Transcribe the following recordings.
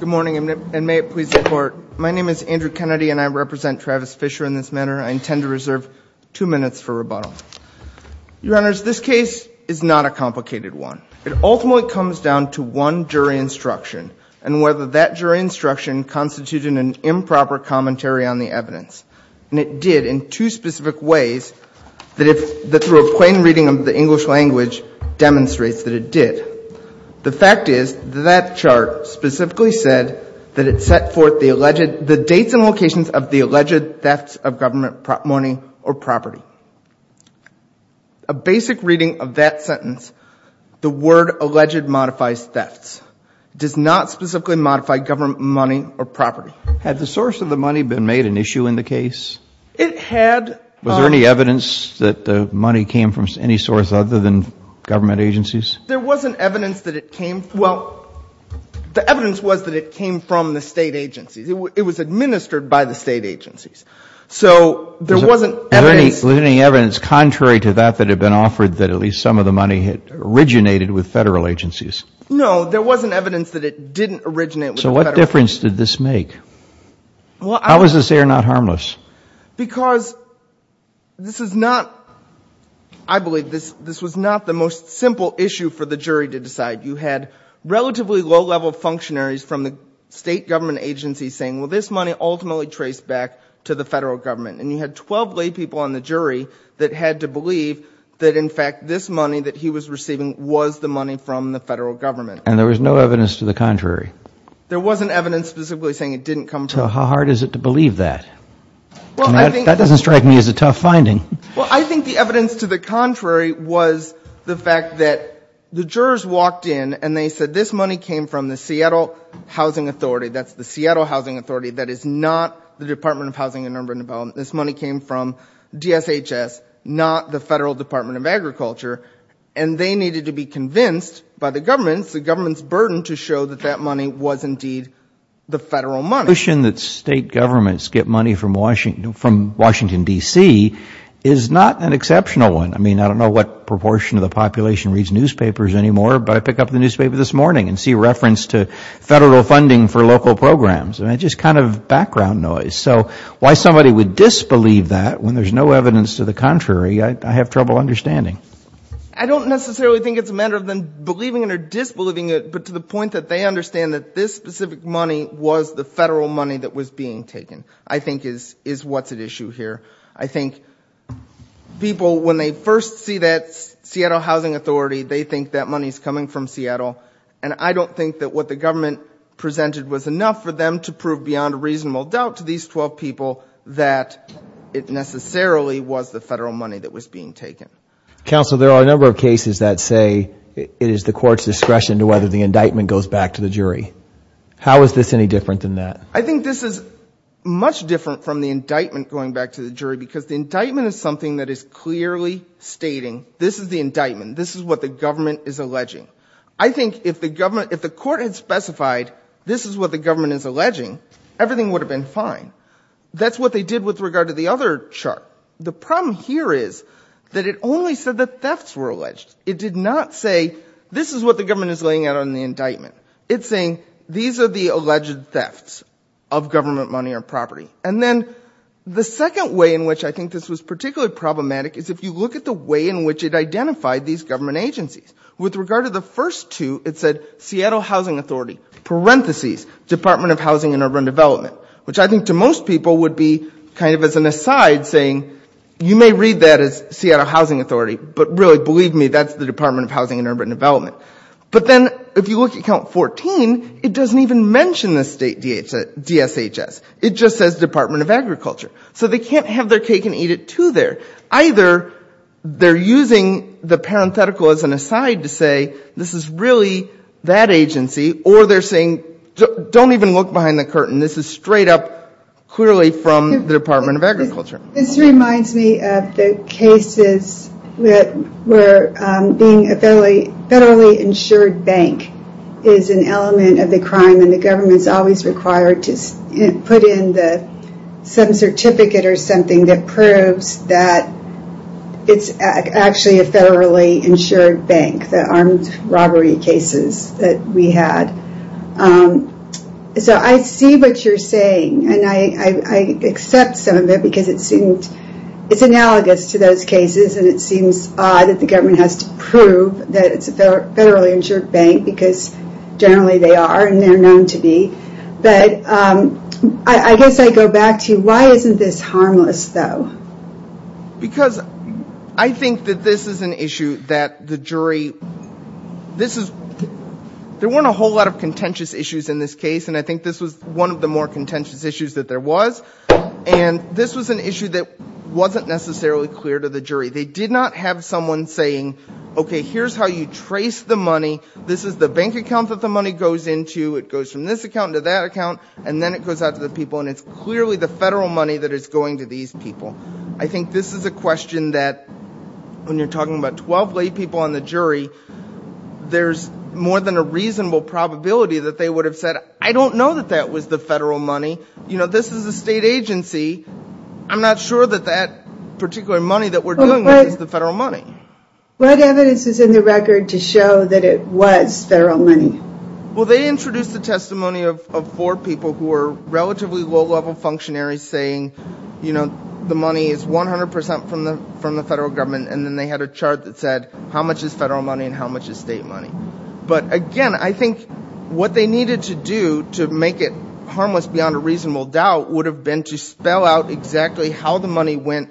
Good morning, and may it please the Court. My name is Andrew Kennedy, and I represent Travis Fischer in this manner. I intend to reserve two minutes for rebuttal. Your Honors, this case is not a complicated one. It ultimately comes down to one jury instruction and whether that jury instruction constituted an improper commentary on the evidence. And it did in two specific ways that through a plain reading of the English language demonstrates that it did. The fact is that that chart specifically said that it set forth the alleged the dates and locations of the alleged thefts of government money or property. A basic reading of that sentence, the word alleged modifies thefts. It does not specifically modify government money or property. Had the source of the money been made an issue in the case? It had. Was there any evidence that the money came from any source other than government agencies? There wasn't evidence that it came from. Well, the evidence was that it came from the State agencies. It was administered by the State agencies. So there wasn't evidence. Was there any evidence contrary to that that had been offered that at least some of the money had originated with Federal agencies? No, there wasn't evidence that it didn't originate with Federal agencies. So what difference did this make? How was this error not harmless? Because this is not, I believe this was not the most simple issue for the jury to decide. You had relatively low level functionaries from the State government agencies saying, well this money ultimately traced back to the Federal government. And you had 12 lay people on the jury that had to believe that in fact this money that he was receiving was the money from the Federal government. And there was no evidence to the contrary? There wasn't evidence specifically saying it didn't come from. How hard is it to believe that? That doesn't strike me as a tough finding. Well, I think the evidence to the contrary was the fact that the jurors walked in and they said this money came from the Seattle Housing Authority. That's the Seattle Housing Authority. That is not the Department of Housing and Urban Development. This money came from DSHS, not the Federal Department of Agriculture. And they needed to be convinced by the government, the government's burden to show that that money was indeed the Federal money. The notion that State governments get money from Washington, D.C. is not an exceptional one. I mean, I don't know what proportion of the population reads newspapers anymore, but I pick up the newspaper this morning and see reference to Federal funding for local programs. And it's just kind of background noise. So why somebody would disbelieve that when there's no evidence to the contrary, I have trouble understanding. I don't necessarily think it's a matter of them believing it or disbelieving it, but to the point that they understand that this specific money was the Federal money that was being taken, I think is what's at issue here. I think people, when they first see that Seattle Housing Authority, they think that money's coming from Seattle. And I don't think that what the government presented was enough for them to prove beyond a reasonable doubt to these 12 people that it necessarily was the Federal money that was being taken. Counsel, there are a number of cases that say it is the court's discretion to whether the indictment goes back to the jury. How is this any different than that? I think this is much different from the indictment going back to the jury because the indictment is something that is clearly stating this is the indictment, this is what the government is alleging. I think if the government, if the court had specified this is what the government is alleging, everything would have been fine. That's what they did with regard to the other chart. The problem here is that it only said that thefts were alleged. It did not say this is what the government is laying out on the indictment. It's saying these are the alleged thefts of government money or property. And then the second way in which I think this was particularly problematic is if you look at the way in which it identified these government agencies. With regard to the first two, it said Seattle Housing Authority, parentheses, Department of Housing and Urban Development, which I think to most people would be kind of as an aside saying you may read that as Seattle Housing Authority, but really, believe me, that's the Department of Housing and Urban Development. But then if you look at count 14, it doesn't even mention the State DSHS. It just says Department of Agriculture. So they can't have their cake and eat it too there. Either they're using the parenthetical as an aside to say this is really that agency, or they're saying don't even look behind the curtain. This is straight up clearly from the Department of Agriculture. This reminds me of the cases where being a federally insured bank is an element of the crime and the government is always required to put in some certificate or something that proves that it's actually a federally insured bank, the armed robbery cases that we had. So I see what you're saying and I accept some of it because it's analogous to those cases and it seems odd that the government has to prove that it's a federally insured bank because generally they are and they're known to be. I guess I go back to why isn't this harmless though? Because I think that this is an issue that the jury... There weren't a whole lot of contentious issues in this case and I think this was one of the more contentious issues that there was and this was an issue that wasn't necessarily clear to the jury. They did not have someone saying okay here's how you trace the money. This is the bank account that the money goes into. It goes from this account to that account and then it goes out to the people and it's clearly the federal money that is going to these people. I think this is a question that when you're talking about 12 lay people on the jury, there's more than a reasonable probability that they would have said I don't know that that was the federal money. This is a state agency. I'm not sure that that particular money that we're doing is the federal money. What evidence is in the record to show that it was federal money? Well they introduced a testimony of four people who were relatively low level functionaries saying the money is 100% from the federal government and then they had a chart that said how much is federal money and how much is state money. But again I think what they needed to do to make it harmless beyond a reasonable doubt would have been to spell out exactly how the money went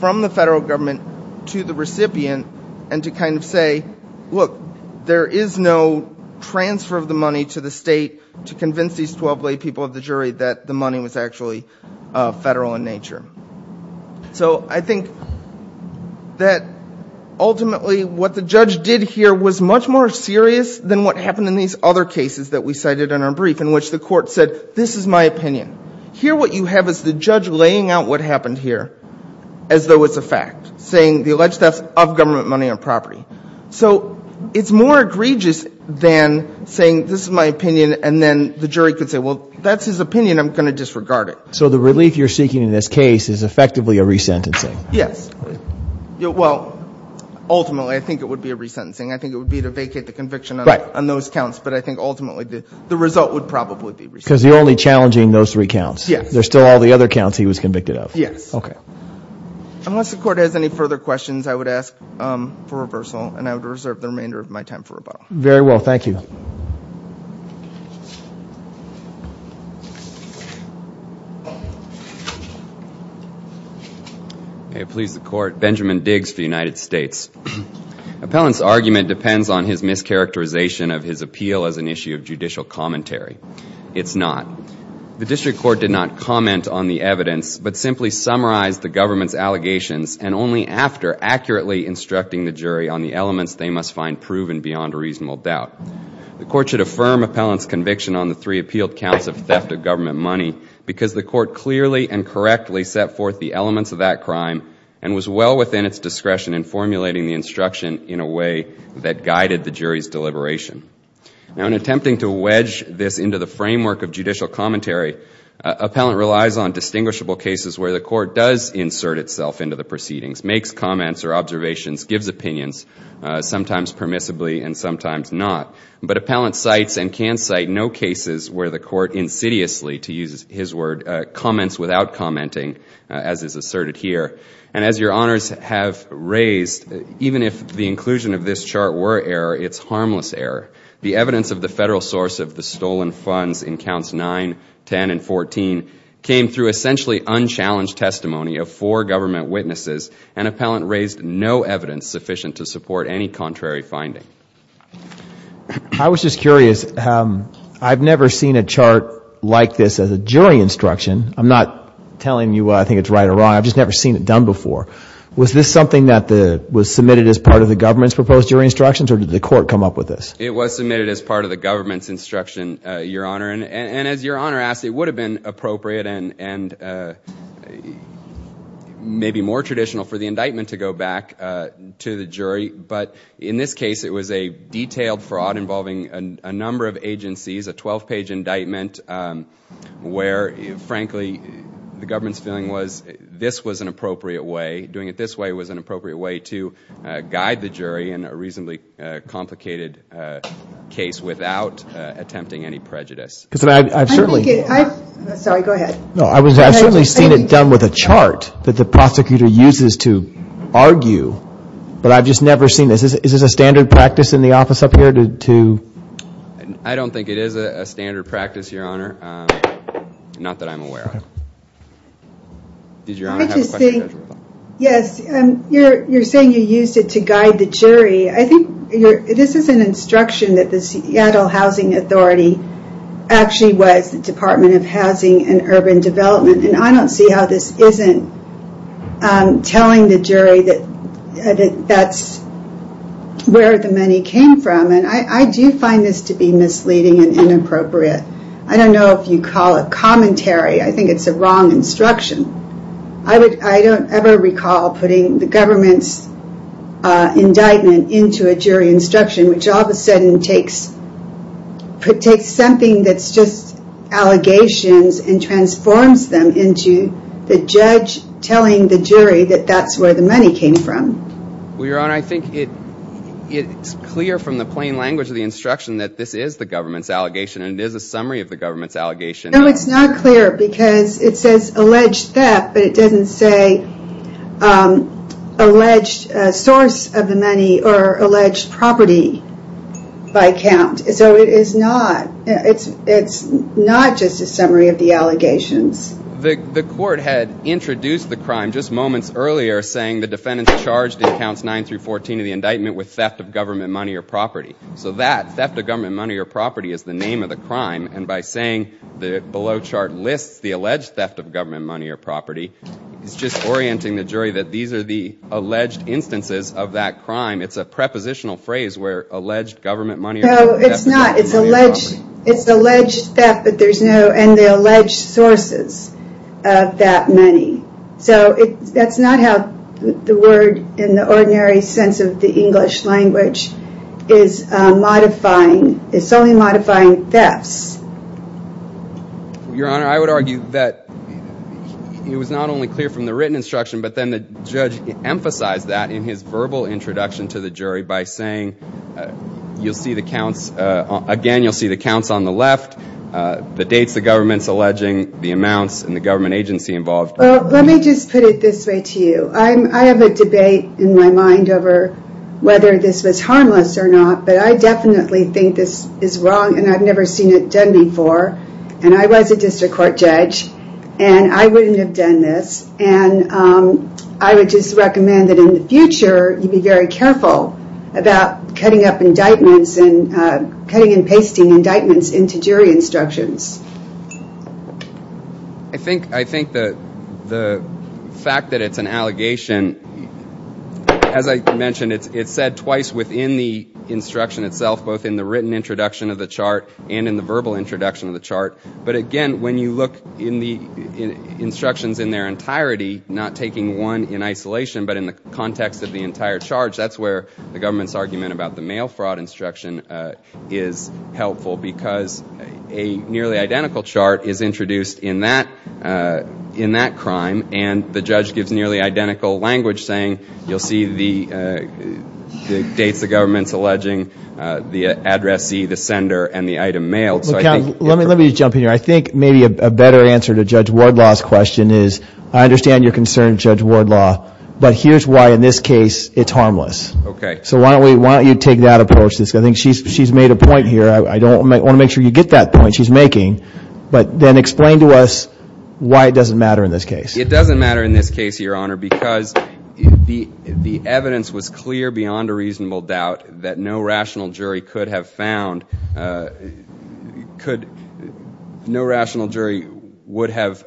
from the federal government to the recipient and to kind of say look there is no transfer of the money to the state to convince these 12 lay people of the jury that the money was actually federal in nature. So I think that ultimately what the judge did here was much more serious than what happened in these other cases that we cited in our brief in which the court said this is my opinion. Here what you have is the judge laying out what happened here as though it's a fact, saying the alleged theft of government money on property. So it's more egregious than saying this is my opinion and then the jury could say well that's his opinion I'm going to disregard it. So the relief you're seeking in this case is effectively a resentencing? Yes. Well ultimately I think it would be a resentencing. I think it would be to vacate the conviction on those counts but I think ultimately the result would probably be resentencing. Because you're only challenging those three counts. There's still all the other counts he was convicted of. Yes. Okay. Unless the court has any further questions I would ask for reversal and I would reserve the remainder of my time for rebuttal. Very well thank you. May it please the court. Benjamin Diggs for the United States. Appellant's argument depends on his mischaracterization of his appeal as an issue of judicial commentary. It's not. The district court did not comment on the evidence but simply summarized the government's allegations and only after accurately instructing the jury on the elements they must find proven beyond a reasonable doubt. The court should affirm appellant's conviction on the three counts. The court clearly and correctly set forth the elements of that crime and was well within its discretion in formulating the instruction in a way that guided the jury's deliberation. Now in attempting to wedge this into the framework of judicial commentary, appellant relies on distinguishable cases where the court does insert itself into the proceedings, makes comments or observations, gives opinions, sometimes permissibly and sometimes not. But appellant cites and can cite no cases where the court insidiously, to use his word, comments without commenting as is asserted here. And as your honors have raised, even if the inclusion of this chart were error, it's harmless error. The evidence of the federal source of the stolen funds in counts 9, 10 and 14 came through essentially unchallenged testimony of four government witnesses and appellant raised no evidence sufficient to support any contrary finding. I was just curious. I've never seen a chart like this as a jury instruction. I'm not telling you I think it's right or wrong. I've just never seen it done before. Was this something that was submitted as part of the government's proposed jury instructions or did the court come up with this? It was submitted as part of the government's instruction, your honor. And as your honor asked, it would have been appropriate and maybe more traditional for the indictment to go back to the jury. But in this case, it was a detailed fraud involving a number of agencies, a 12-page indictment, where, frankly, the government's feeling was this was an appropriate way. Doing it this way was an appropriate way to guide the jury in a reasonably complicated case without attempting any prejudice. Because I've certainly I think it Sorry, go ahead. No, I've certainly seen it done with a chart that the prosecutor uses to argue. But I've just never seen this. Is this a standard practice in the office up here? I don't think it is a standard practice, your honor. Not that I'm aware of. Did your honor have a question? I just think, yes, you're saying you used it to guide the jury. I think this is an instruction that the Seattle Housing Authority actually was the Department of Housing and Urban Development. And I don't see how this isn't telling the jury that that's where the money came from. And I do find this to be misleading and inappropriate. I don't know if you call it commentary. I think it's a wrong instruction. I don't ever recall putting the government's indictment into a jury instruction, which all of a sudden takes something that's just allegations and transforms them into the judge telling the jury that that's where the money came from. Well, your honor, I think it's clear from the plain language of the instruction that this is the government's allegation and it is a summary of the government's allegation. No, it's not clear because it says alleged theft, but it doesn't say alleged source of the money or alleged property by count. So it's not just a summary of the allegations. The court had introduced the crime just moments earlier saying the defendant's charged in counts 9 through 14 of the indictment with theft of government money or property. So that, theft of government money or property, is the name of the crime. And by saying the below chart lists the alleged theft of government money or property, it's just orienting the crime. It's a prepositional phrase where alleged government money or property. No, it's not. It's alleged theft, and the alleged sources of that money. So that's not how the word in the ordinary sense of the English language is modifying. It's only modifying thefts. Your honor, I would argue that it was not only clear from the written instruction, but then the judge emphasized that in his verbal introduction to the jury by saying, you'll see the counts, again, you'll see the counts on the left, the dates the government's alleging, the amounts, and the government agency involved. Well, let me just put it this way to you. I have a debate in my mind over whether this was harmless or not, but I definitely think this is wrong and I've never seen it done before, and I was a district court judge, and I wouldn't have done this, and I would just recommend that in the future, you be very careful about cutting up indictments and cutting and pasting indictments into jury instructions. I think the fact that it's an allegation, as I mentioned, it's said twice within the introduction of the chart, but again, when you look in the instructions in their entirety, not taking one in isolation, but in the context of the entire charge, that's where the government's argument about the mail fraud instruction is helpful, because a nearly identical chart is introduced in that crime, and the judge gives nearly identical language saying, you'll see the dates the government's alleging, the addressee, the sender, and the item mailed. Let me just jump in here. I think maybe a better answer to Judge Wardlaw's question is I understand your concern, Judge Wardlaw, but here's why in this case it's harmless. So why don't you take that approach? I think she's made a point here. I want to make sure you get that point she's making, but then explain to us why it doesn't matter in this case. It doesn't matter in this case, Your Honor, because the evidence was clear beyond a reasonable doubt that no rational jury could have found, no rational jury would have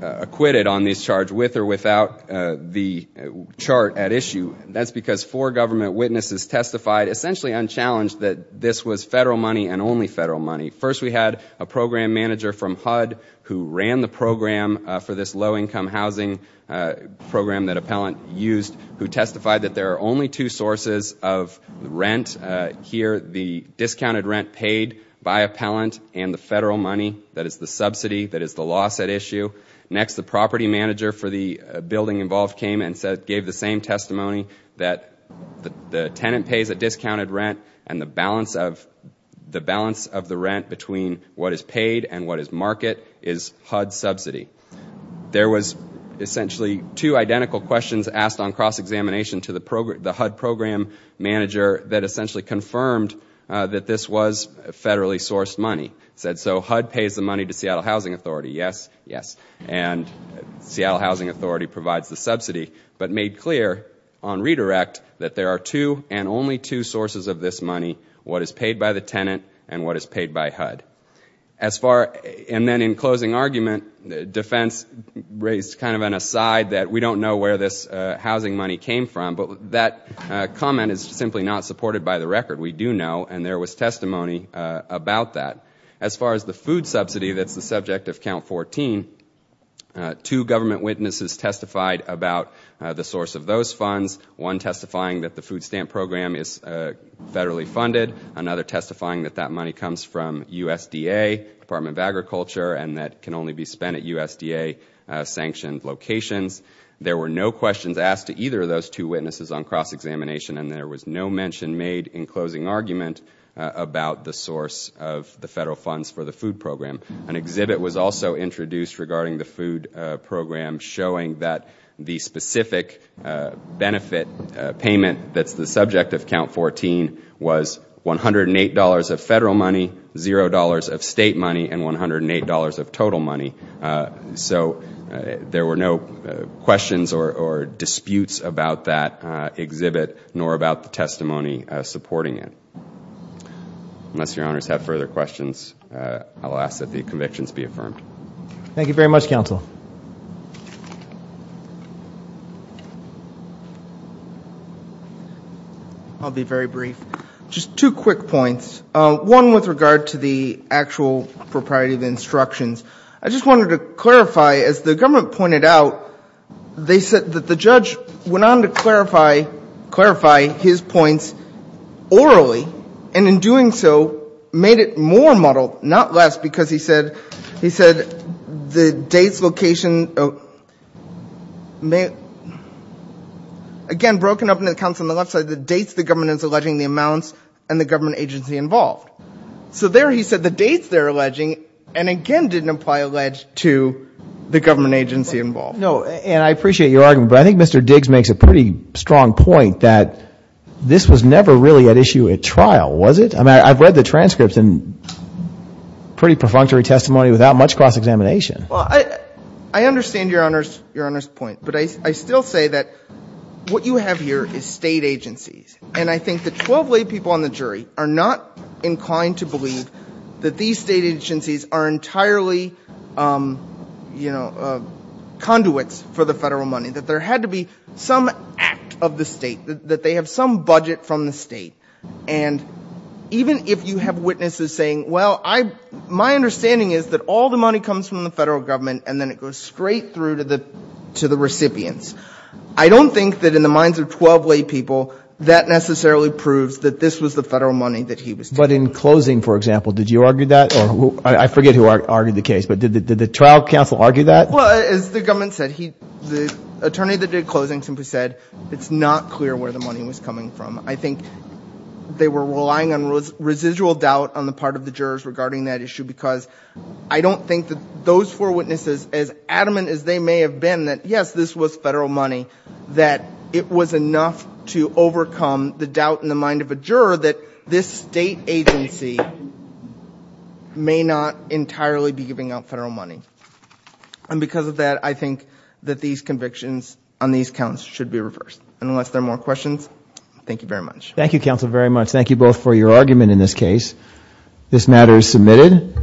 acquitted on this charge with or without the chart at issue. That's because four government witnesses testified essentially unchallenged that this was federal money and only federal money. First we had a program manager from HUD who ran the program for this low-income housing program that Appellant used who testified that there are only two sources of rent here, the discounted rent paid by Appellant and the federal money that is the subsidy that is the loss at issue. Next the property manager for the building involved came and gave the same testimony that the tenant pays a discounted rent and the balance of the rent between what is paid and what is market is HUD subsidy. There was essentially two identical questions asked on cross-examination to the HUD program manager that essentially confirmed that this was federally sourced money. He said, so HUD pays the money to Seattle Housing Authority, yes, yes, and Seattle Housing Authority provides the subsidy, but made clear on redirect that there are two and only two sources of this money, what is paid by the tenant and what is paid by HUD. As far, and then in closing argument, defense raised kind of an aside that we don't know where this housing money came from, but that comment is simply not supported by the record. We do know and there was testimony about that. As far as the food subsidy that's the subject of count 14, two government witnesses testified about the source of those funds, one testifying that the food stamp program is federally funded, another testifying that that money comes from USDA, Department of Agriculture, and that can only be spent at USDA-sanctioned locations. There were no questions asked to either of those two witnesses on cross-examination and there was no mention made in closing argument about the source of the federal funds for the food program. An exhibit was also introduced regarding the food program showing that the specific benefit payment that's the subject of count 14 was $108 of federal money, $0 of state money, and $108 of total money. So there were no questions or disputes about that exhibit nor about the testimony supporting it. Unless your honors have further questions, I'll ask that the convictions be affirmed. Thank you very much, counsel. I'll be very brief. Just two quick points. One with regard to the actual propriety of instructions. I just wanted to clarify, as the government pointed out, they said that the judge went on to clarify his points orally and in doing so made it more muddled, not less, because he said the dates, location, again, broken up into accounts on the left side, the dates the government is alleging the amounts and the government agency involved. So there he said the dates they're alleging and again didn't apply allege to the government agency involved. No, and I appreciate your argument, but I think Mr. Diggs makes a pretty strong point that this was never really at issue at trial, was it? I've read the transcripts and pretty perfunctory testimony without much cross-examination. I understand your honors point, but I still say that what you have here is state agencies and I think the 12 people on the jury are not inclined to believe that these state agencies are entirely conduits for the federal money, that there had to be some act of the state that they have some budget from the state. And even if you have witnesses saying, well, my understanding is that all the money comes from the federal government and then it goes straight through to the recipients. I don't think that in the minds of 12 lay people that necessarily proves that this was the federal money that he was taking. But in closing, for example, did you argue that? I forget who argued the case, but did the trial counsel argue that? Well, as the government said, the attorney that did closing simply said, it's not clear where the money was coming from. I think they were relying on residual doubt on the part of the jurors regarding that issue because I don't think that those four witnesses as adamant as they may have been that, yes, this was federal money, that it was enough to overcome the doubt in the mind of a juror that this state agency may not entirely be giving out federal money. And because of that, I think that these convictions on these counts should be reversed. And unless there are more questions, thank you very much. Thank you, counsel, very much. Thank you both for your argument in this case. This matter is submitted.